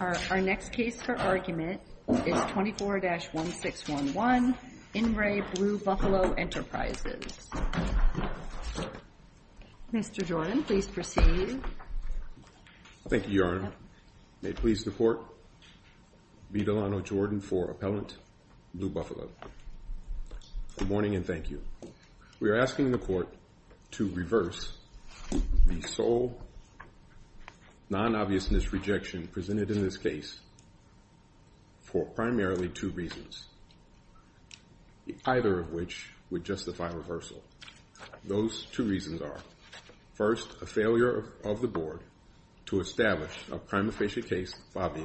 Our next case for argument is 24-1611, In Re. Blue Buffalo Enterprises. Mr. Jordan, please proceed. Thank you, Your Honor. May it please the court, Vidalano Jordan for Appellant Blue Buffalo. Good morning and thank you. We are asking the court to reverse the sole non-obviousness objection presented in this case for primarily two reasons, either of which would justify reversal. Those two reasons are, first, a failure of the board to establish a prima facie case of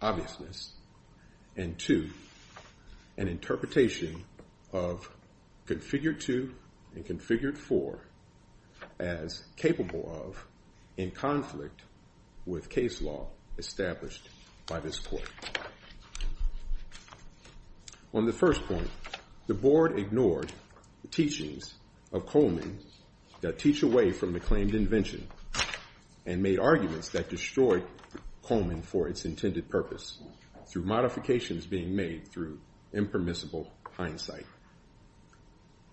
obviousness, and two, an interpretation of configured to and configured for as capable of in conflict with case law established by this court. On the first point, the board ignored the teachings of Coleman that teach away from the claimed invention and made arguments that destroyed Coleman for its intended purpose through modifications being made through impermissible hindsight.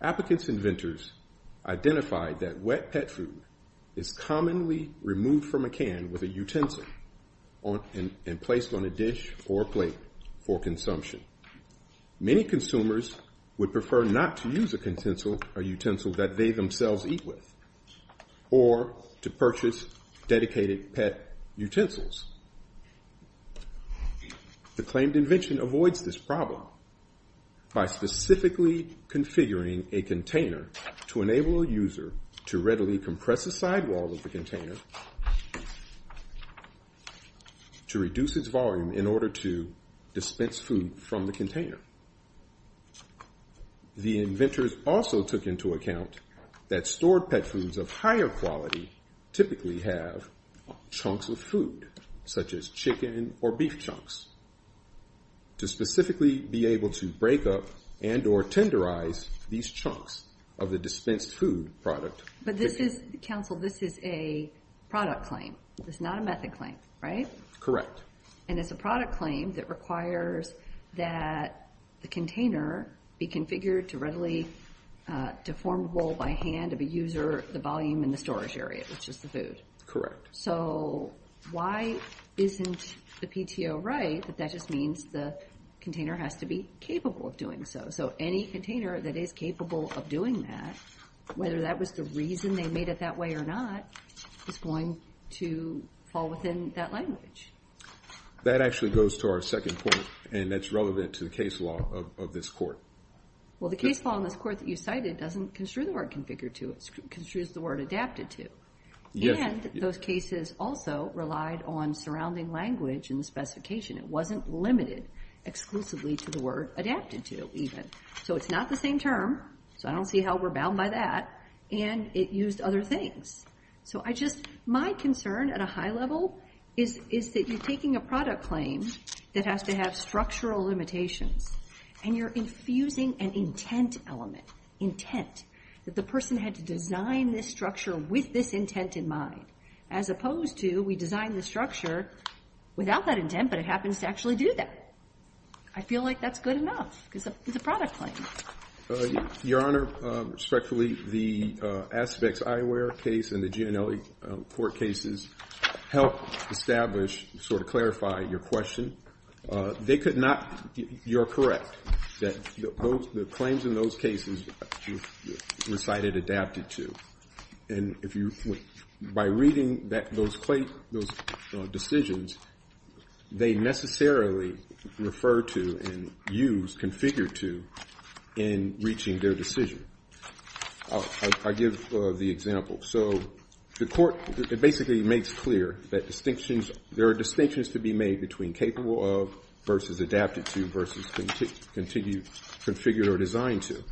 Applicants and inventors identified that wet pet food is commonly removed from a can with a utensil and placed on a dish or plate for consumption. Many consumers would prefer not to use a utensil that they themselves eat with or to purchase dedicated pet utensils. The claimed invention avoids this problem by specifically configuring a container to enable a user to readily compress a sidewall of the container to reduce its volume in order to dispense food from the container. The inventors also took into account that stored pet foods of higher quality typically have chunks of food, such as chicken or beef chunks, to specifically be able to break up and or tenderize these chunks of the dispensed food product. But this is, counsel, this is a product claim. It's not a method claim, right? Correct. And it's a product claim that requires that the container be configured to readily deformable by hand of a user, the volume, and the storage area, which is the food. Correct. So why isn't the PTO right that that just means the container has to be capable of doing so? So any container that is capable of doing that, whether that was the reason they made it that way or not, is going to fall within that language. That actually goes to our second point, and that's relevant to the case law of this court. Well, the case law in this court that you cited doesn't construe the word configured to. It construes the word adapted to. And those cases also relied on surrounding language in the specification. It wasn't limited exclusively to the word adapted to, even. So it's not the same term, so I don't see how we're bound by that. And it used other things. So my concern at a high level is that you're taking a product claim that has to have structural limitations, and you're infusing an intent element, intent, that the person had to design this structure with this intent in mind, as opposed to we design the structure without that intent, but it happens to actually do that. I feel like that's good enough, because it's a product claim. Your Honor, respectfully, the Aspects Ioware case and the Gianelli court cases help establish, sort of clarify your question. They could not, you're correct, that the claims in those cases were cited adapted to. And by reading those decisions, they necessarily refer to and use configured to in reaching their decision. I'll give the example. So the court basically makes clear that there are distinctions to be made between capable of versus adapted to versus configured or designed to.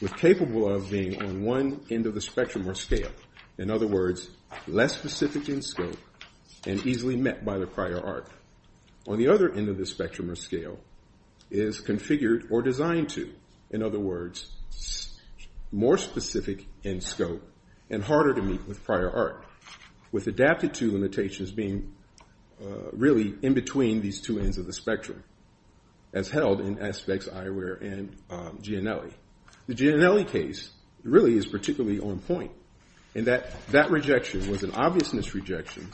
With capable of being on one end of the spectrum or scale, in other words, less specific in scope and easily met by the prior art. On the other end of the spectrum or scale, is configured or designed to, in other words, more specific in scope and harder to meet with prior art. With adapted to limitations being really in between these two ends of the spectrum, as held in Aspects Ioware and Gianelli. The Gianelli case really is particularly on point in that that rejection was an obvious misrejection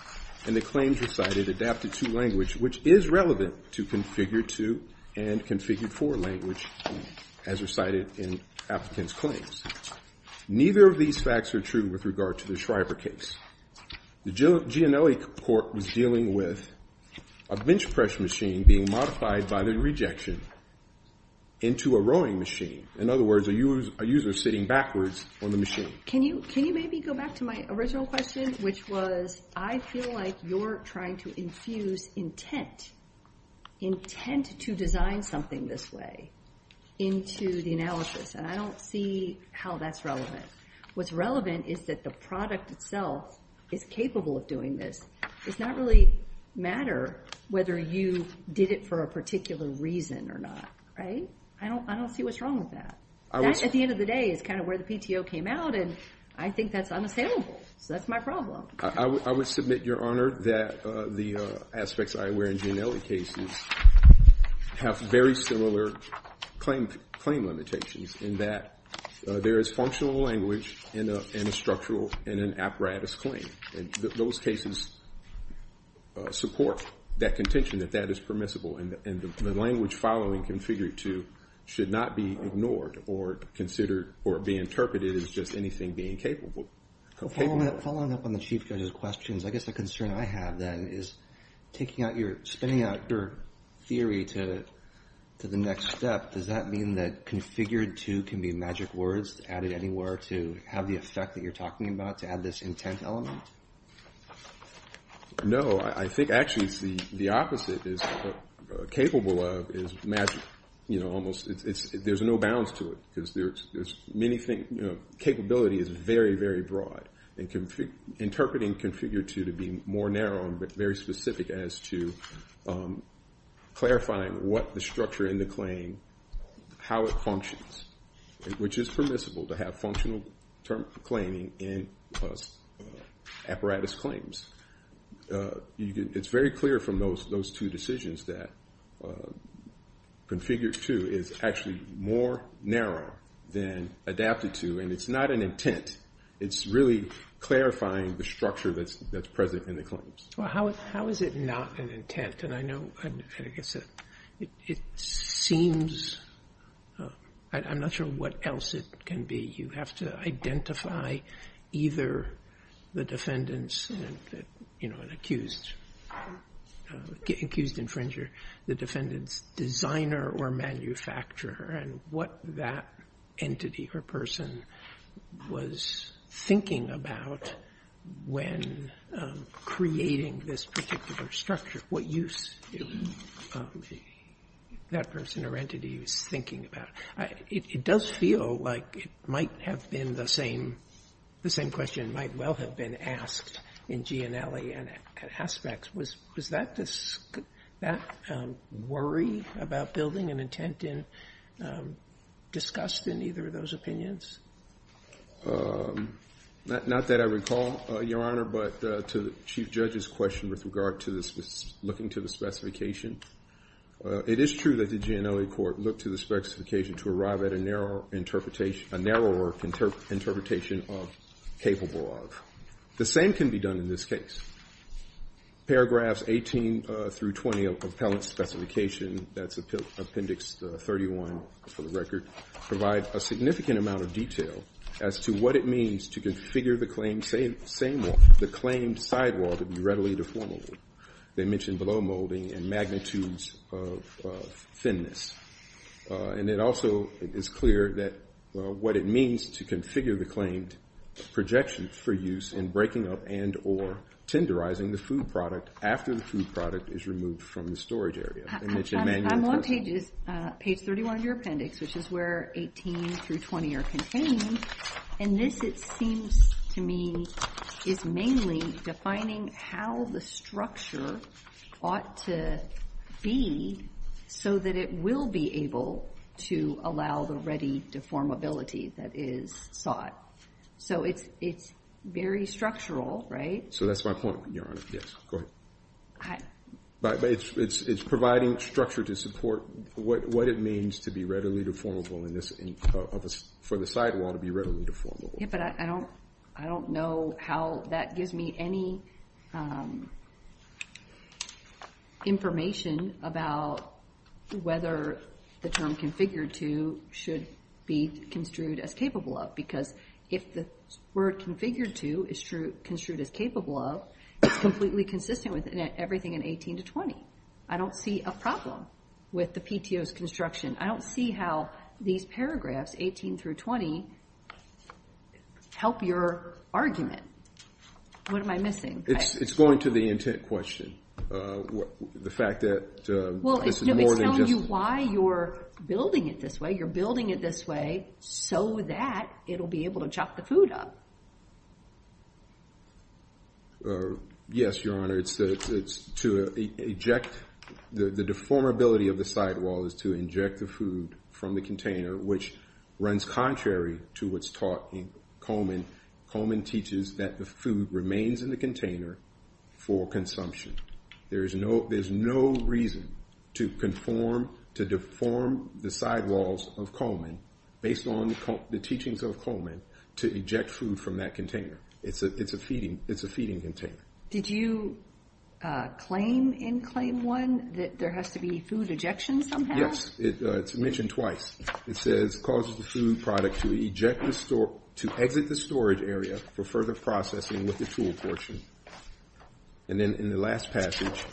and the claims recited adapted to language, which is relevant to configured to and configured for language as recited in applicant's claims. Neither of these facts are true with regard to the Schreiber case. The Gianelli court was dealing with a bench press machine being modified by the rejection into a rowing machine. In other words, a user sitting backwards on the machine. Can you maybe go back to my original question, which was, I feel like you're trying to infuse intent, intent to design something this way, into the analysis. And I don't see how that's relevant. What's relevant is that the product itself is capable of doing this. It's not really matter whether you did it for a particular reason or not, right? I don't see what's wrong with that. At the end of the day, it's kind of where the PTO came out, and I think that's unassailable. So that's my problem. I would submit, Your Honor, that the Aspects Ioware and Gianelli cases have very similar claim limitations in that there is functional language in a structural and an apparatus claim. Those cases support that contention that that is permissible. And the language following configured to should not be ignored or considered or be interpreted as just anything being capable. Following up on the Chief Judge's questions, I guess the concern I have then is taking out your, spinning out your theory to the next step. Does that mean that configured to can be magic words added anywhere to have the effect that you're talking about to add this intent element? No, I think actually the opposite is capable of is magic. You know, almost, there's no bounds to it. Because there's many things, you know, capability is very, very broad. And interpreting configured to to be more narrow and very specific as to clarifying what the structure in the claim, how it functions, which is permissible to have functional term claiming in apparatus claims. It's very clear from those two decisions that configured to is actually more narrow than adapted to. And it's not an intent. It's really clarifying the structure that's present in the claims. Well, how is it not an intent? And I know, I guess it seems, I'm not sure what else it can be. You have to identify either the defendants you know, an accused infringer, the defendant's designer or manufacturer and what that entity or person was thinking about when creating this particular structure. What use that person or entity was thinking about. It does feel like it might have been the same, the same question might well have been asked in Gianelli and aspects. Was that this worry about building an intent and discussed in either of those opinions? Not that I recall, Your Honor, but to the Chief Judge's question with regard to this, looking to the specification. It is true that the Gianelli Court looked to the specification to arrive at a narrower interpretation of capable of. The same can be done in this case. Paragraphs 18 through 20 of Appellant Specification, that's Appendix 31 for the record, provide a significant amount of detail as to what it means to configure the claim sidewall to be readily deformable. They mention below molding and magnitudes of thinness. And it also is clear that what it means to configure the claimed projection for use in breaking up and or tenderizing the food product after the food product is removed from the storage area. I'm on page 31 of your appendix, which is where 18 through 20 are contained. And this, it seems to me, is mainly defining how the structure ought to be so that it will be able to allow the ready deformability that is sought. So it's very structural, right? So that's my point, Your Honor. Yes, go ahead. But it's providing structure to support what it means to be readily deformable in this, for the sidewall to be readily deformable. Yeah, but I don't know how that gives me any information about whether the term configured to should be construed as capable of. Because if the word configured to is construed as capable of, it's completely consistent with everything in 18 to 20. I don't see a problem with the PTO's construction. I don't see how these paragraphs, 18 through 20, help your argument. What am I missing? It's going to the intent question. The fact that this is more than just- Well, it's telling you why you're building it this way. You're building it this way so that it'll be able to chop the food up. Yes, Your Honor. It's to eject, the deformability of the sidewall is to inject the food from the container, which runs contrary to what's taught in Coleman. Coleman teaches that the food remains in the container for consumption. There's no reason to deform the sidewalls of Coleman based on the teachings of Coleman to eject food from that container. It's a feeding container. Did you claim in Claim 1 that there has to be food ejection somehow? Yes, it's mentioned twice. It says, causes the food product to eject the store, to exit the storage area for further processing with the tool portion. And then in the last passage,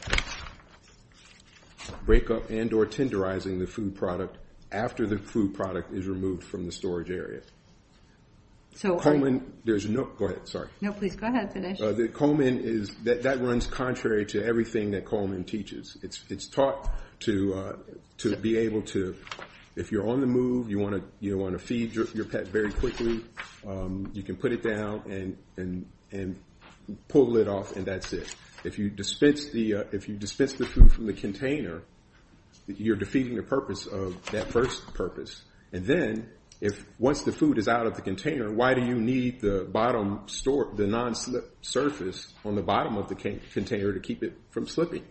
break up and or tenderizing the food product after the food product is removed from the storage area. So Coleman, there's no, go ahead, sorry. No, please, go ahead. Coleman is, that runs contrary to everything that Coleman teaches. It's taught to be able to, if you're on the move, you wanna feed your pet very quickly, you can put it down and pull it off and that's it. If you dispense the food from the container, you're defeating the purpose of that first purpose. And then if once the food is out of the container, why do you need the bottom store, the non-slip surface on the bottom of the container to keep it from slipping?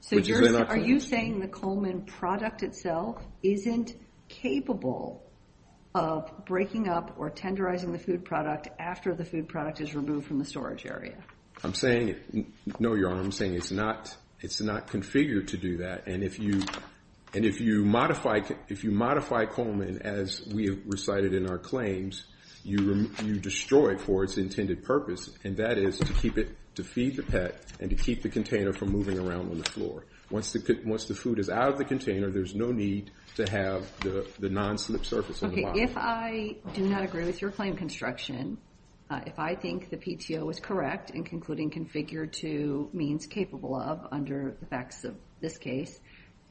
So are you saying the Coleman product itself isn't capable of breaking up or tenderizing the food product after the food product is removed from the storage area? I'm saying, no, Your Honor, I'm saying it's not configured to do that. And if you modify Coleman, as we have recited in our claims, you destroy it for its intended purpose. And that is to keep it, to feed the pet and to keep the container from moving around on the floor. Once the food is out of the container, there's no need to have the non-slip surface on the bottom. Okay, if I do not agree with your claim construction, if I think the PTO is correct in concluding configured to means capable of under the facts of this case,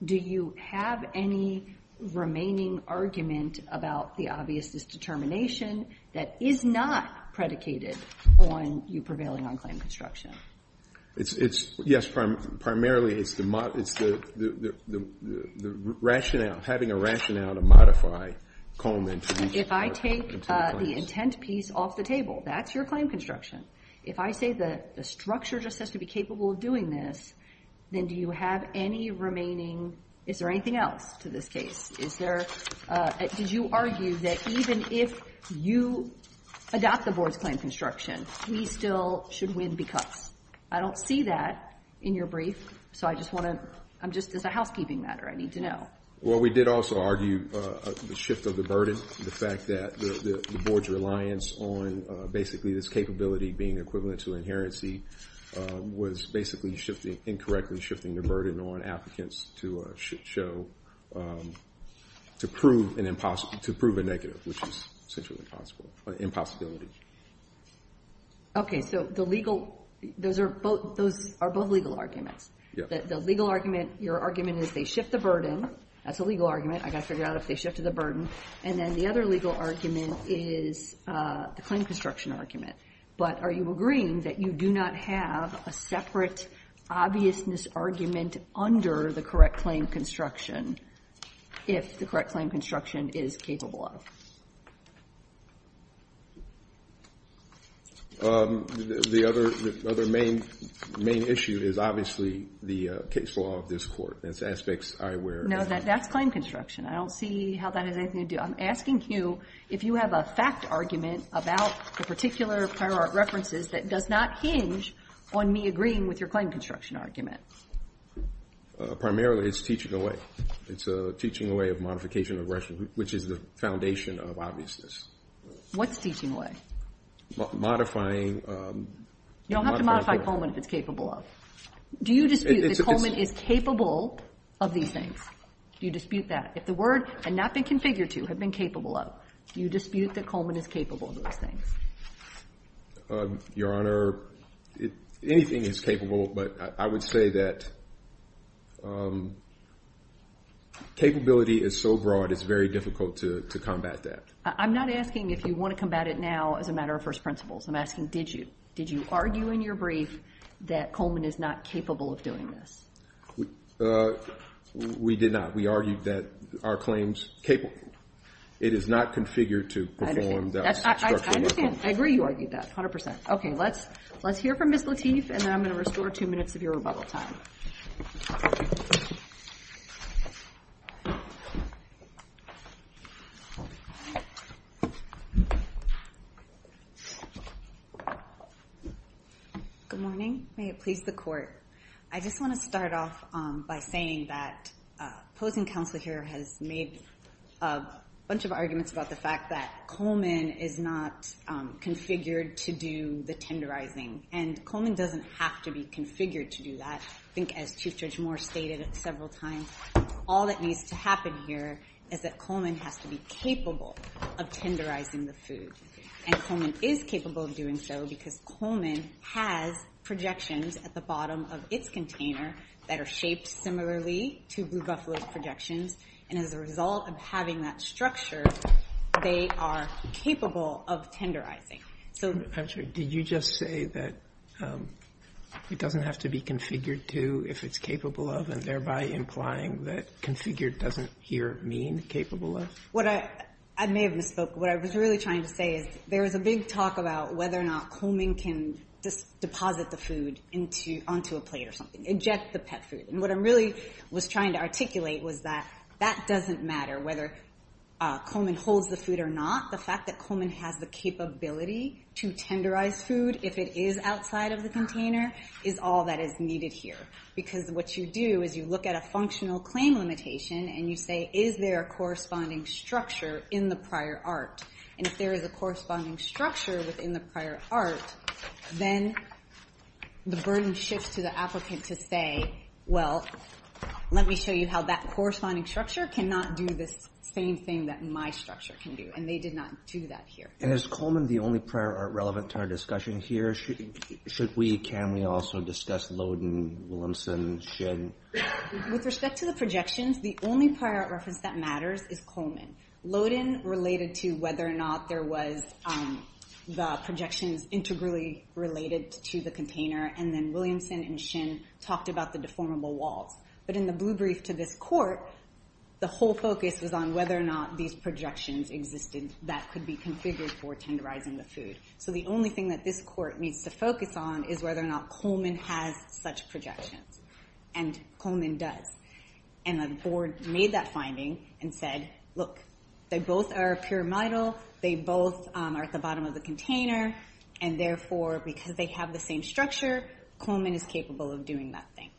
do you have any remaining argument about the obviousness determination that is not predicated on you prevailing on claim construction? It's, yes, primarily it's the rationale, having a rationale to modify Coleman. If I take the intent piece off the table, that's your claim construction. If I say that the structure just has to be capable of doing this, then do you have any remaining, is there anything else to this case? Did you argue that even if you adopt the board's claim construction, we still should win because? I don't see that in your brief, so I just want to, I'm just, as a housekeeping matter, I need to know. Well, we did also argue the shift of the burden, the fact that the board's reliance on basically this capability being equivalent to inherency was basically incorrectly shifting the burden on applicants to show, to prove a negative, which is essentially impossible, an impossibility. Okay, so the legal, those are both legal arguments. The legal argument, your argument is they shift the burden, that's a legal argument. I gotta figure out if they shifted the burden. And then the other legal argument is the claim construction argument. But are you agreeing that you do not have a separate obviousness argument under the correct claim construction if the correct claim construction is capable of? The other main issue is obviously the case law of this court. That's aspects I wear. No, that's claim construction. I don't see how that has anything to do. I'm asking you if you have a fact argument about the particular prior art references that does not hinge on me agreeing with your claim construction argument. Primarily, it's teaching away. It's teaching away of modification of aggression, which is the foundation of obviousness. What's teaching away? Modifying. You don't have to modify Coleman if it's capable of. Do you dispute that Coleman is capable of these things? Do you dispute that? If the word had not been configured to, had been capable of, do you dispute that Coleman is capable of those things? Your Honor, anything is capable, but I would say that capability is so broad it's very difficult to combat that. I'm not asking if you want to combat it now as a matter of first principles. I'm asking, did you? Did you argue in your brief that Coleman is not capable of doing this? We did not. We argued that our claim's capable. It is not configured to perform that construction. I agree you argued that, 100%. Okay, let's hear from Ms. Lateef, and then I'm going to restore two minutes of your rebuttal time. Good morning. May it please the Court. I just want to start off by saying that opposing counsel here has made a bunch of arguments about the fact that Coleman is not configured to do the tenderizing, and Coleman doesn't have to be configured to do that. I think as Chief Judge Moore stated several times, all that needs to happen here is that Coleman has to be capable of tenderizing the food, and Coleman is capable of doing so because Coleman has projections at the bottom of its container that are shaped similarly to Blue Buffalo's projections, and as a result of having that structure, they are capable of tenderizing. I'm sorry, did you just say that it doesn't have to be configured to if it's capable of, and thereby implying that configured doesn't here mean capable of? What I, I may have misspoke. What I was really trying to say is there is a big talk about whether or not Coleman can deposit the food onto a plate or something, inject the pet food, and what I really was trying to articulate was that that doesn't matter whether Coleman holds the food or not. The fact that Coleman has the capability to tenderize food if it is outside of the container is all that is needed here because what you do is you look at a functional claim limitation and you say is there a corresponding structure in the prior art, and if there is a corresponding structure within the prior art, then the burden shifts to the applicant to say, well, let me show you how that corresponding structure cannot do this same thing that my structure can do, and they did not do that here. And is Coleman the only prior art relevant to our discussion here? Should we, can we also discuss Loden, Williamson, Shin? With respect to the projections, the only prior art reference that matters is Coleman. Loden related to whether or not there was the projections integrally related to the container, and then Williamson and Shin talked about the deformable walls. But in the blue brief to this court, the whole focus was on whether or not these projections existed that could be configured for tenderizing the food. So the only thing that this court needs to focus on is whether or not Coleman has such projections, and Coleman does. And the board made that finding and said, look, they both are pyramidal, they both are at the bottom of the container, and therefore, because they have the same structure, Coleman is capable of doing that thing.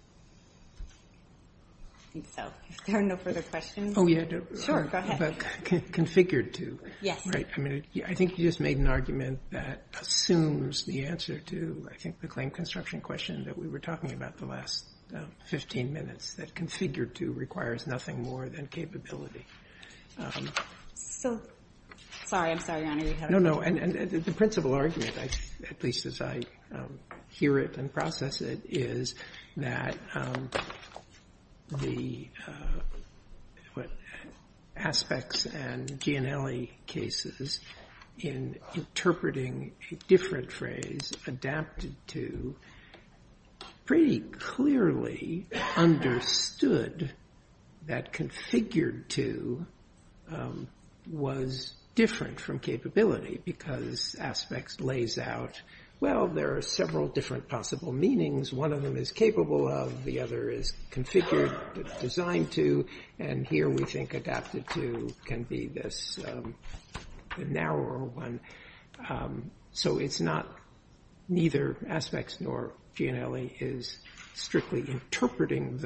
I think so. If there are no further questions. Oh, yeah. Sure, go ahead. Configured to. Yes. I think you just made an argument that assumes the answer to, I think, the claim construction question that we were talking about the last 15 minutes, that configured to requires nothing more than capability. So, sorry, I'm sorry, Your Honor. No, no, and the principal argument, at least as I hear it and process it, is that the aspects and Gianelli cases in interpreting a different phrase adapted to pretty clearly understood that configured to was different from capability because aspects lays out, well, there are several different possible meanings. One of them is capable of, the other is configured, designed to, and here we think adapted to can be this narrower one. So it's not, neither aspects nor Gianelli is strictly interpreting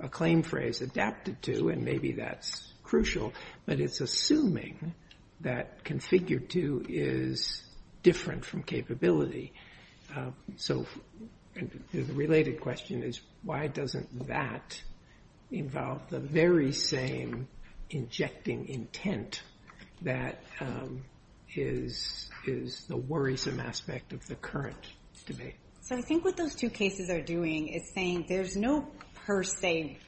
a claim phrase adapted to, and maybe that's crucial, but it's assuming that configured to is different from capability. So the related question is, why doesn't that involve the very same injecting intent that is the worrisome aspect of the current debate? So I think what those two cases are doing is saying there's no per se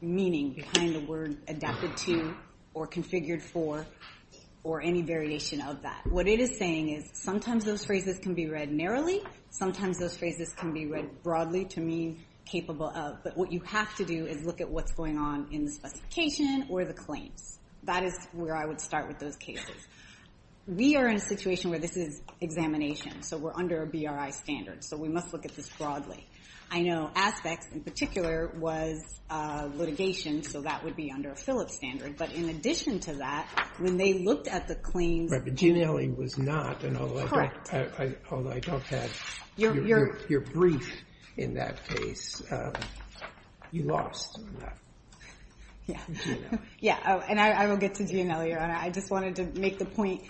meaning behind the word adapted to or configured for or any variation of that. What it is saying is sometimes those phrases can be read narrowly, sometimes those phrases can be read broadly to mean capable of, but what you have to do is look at what's going on in the specification or the claims. That is where I would start with those cases. We are in a situation where this is examination, so we're under a BRI standard, so we must look at this broadly. I know aspects in particular was litigation, so that would be under a Phillips standard, but in addition to that, when they looked at the claims. Right, but Gianelli was not, and although I don't have your brief in that case, you lost Gianelli. Yeah, and I will get to Gianelli, Your Honor. I just wanted to make the point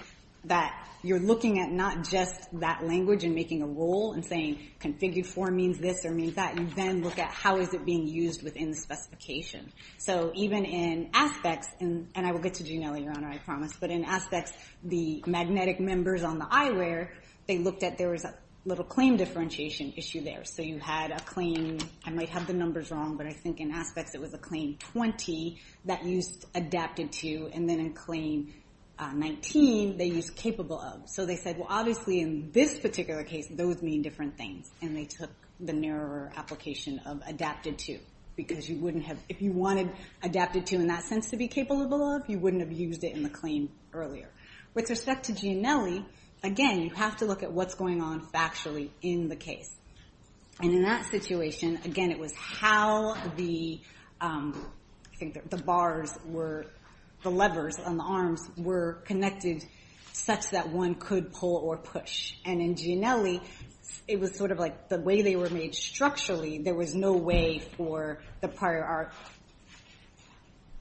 that you're looking at not just that language and making a rule and saying configured for means this or means that. You then look at how is it being used within the specification. So even in aspects, and I will get to Gianelli, Your Honor, I promise, but in aspects, the magnetic members on the eyewear, they looked at there was a little claim differentiation issue there. So you had a claim, I might have the numbers wrong, but I think in aspects, it was a claim 20 that used adapted to, and then in claim 19, they used capable of. So they said, well, obviously in this particular case, those mean different things, and they took the narrower application of adapted to because you wouldn't have, if you wanted adapted to in that sense to be capable of, you wouldn't have used it in the claim earlier. With respect to Gianelli, again, you have to look at what's going on factually in the case. And in that situation, again, it was how the, I think the bars were, the levers on the arms were connected such that one could pull or push. And in Gianelli, it was sort of like the way they were made structurally, there was no way for the prior art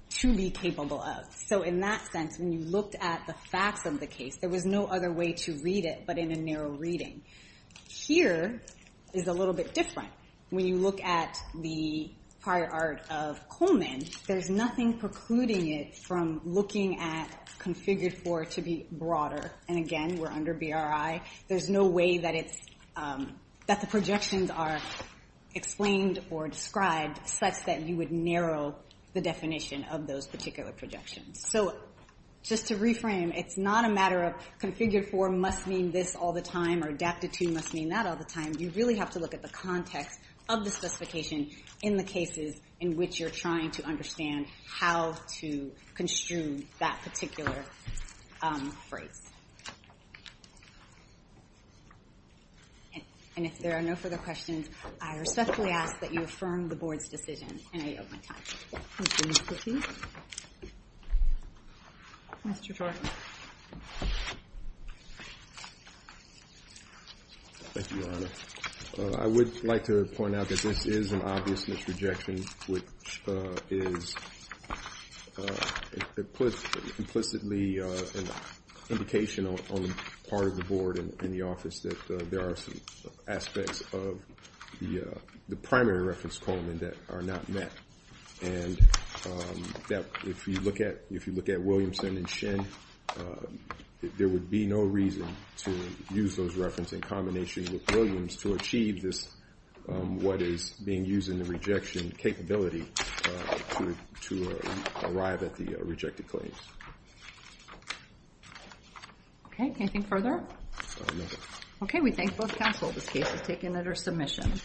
to be capable of. So in that sense, when you looked at the facts of the case, there was no other way to read it but in a narrow reading. Here is a little bit different. When you look at the prior art of Coleman, there's nothing precluding it from looking at configured for it to be broader. And again, we're under BRI. There's no way that it's, that the projections are explained or described such that you would narrow the definition of those particular projections. So just to reframe, it's not a matter of configured for must mean this all the time or adapted to must mean that all the time. You really have to look at the context of the specification in the cases in which you're trying to understand how to construe that particular phrase. And if there are no further questions, I respectfully ask that you affirm the board's decision in an open time. Thank you, Mr. Teague. Mr. Jordan. Thank you, Your Honor. I would like to point out that this is an obvious misrejection, which is implicitly an indication on the part of the board and the office that there are some aspects of the primary reference Coleman that are not met. And if you look at Williamson and Shin, there would be no reason to use those reference in combination with Williams to achieve this, what is being used in the rejection capability to arrive at the rejected claims. Okay, can I think further? Okay, we thank both counsel. This case is taken under submission.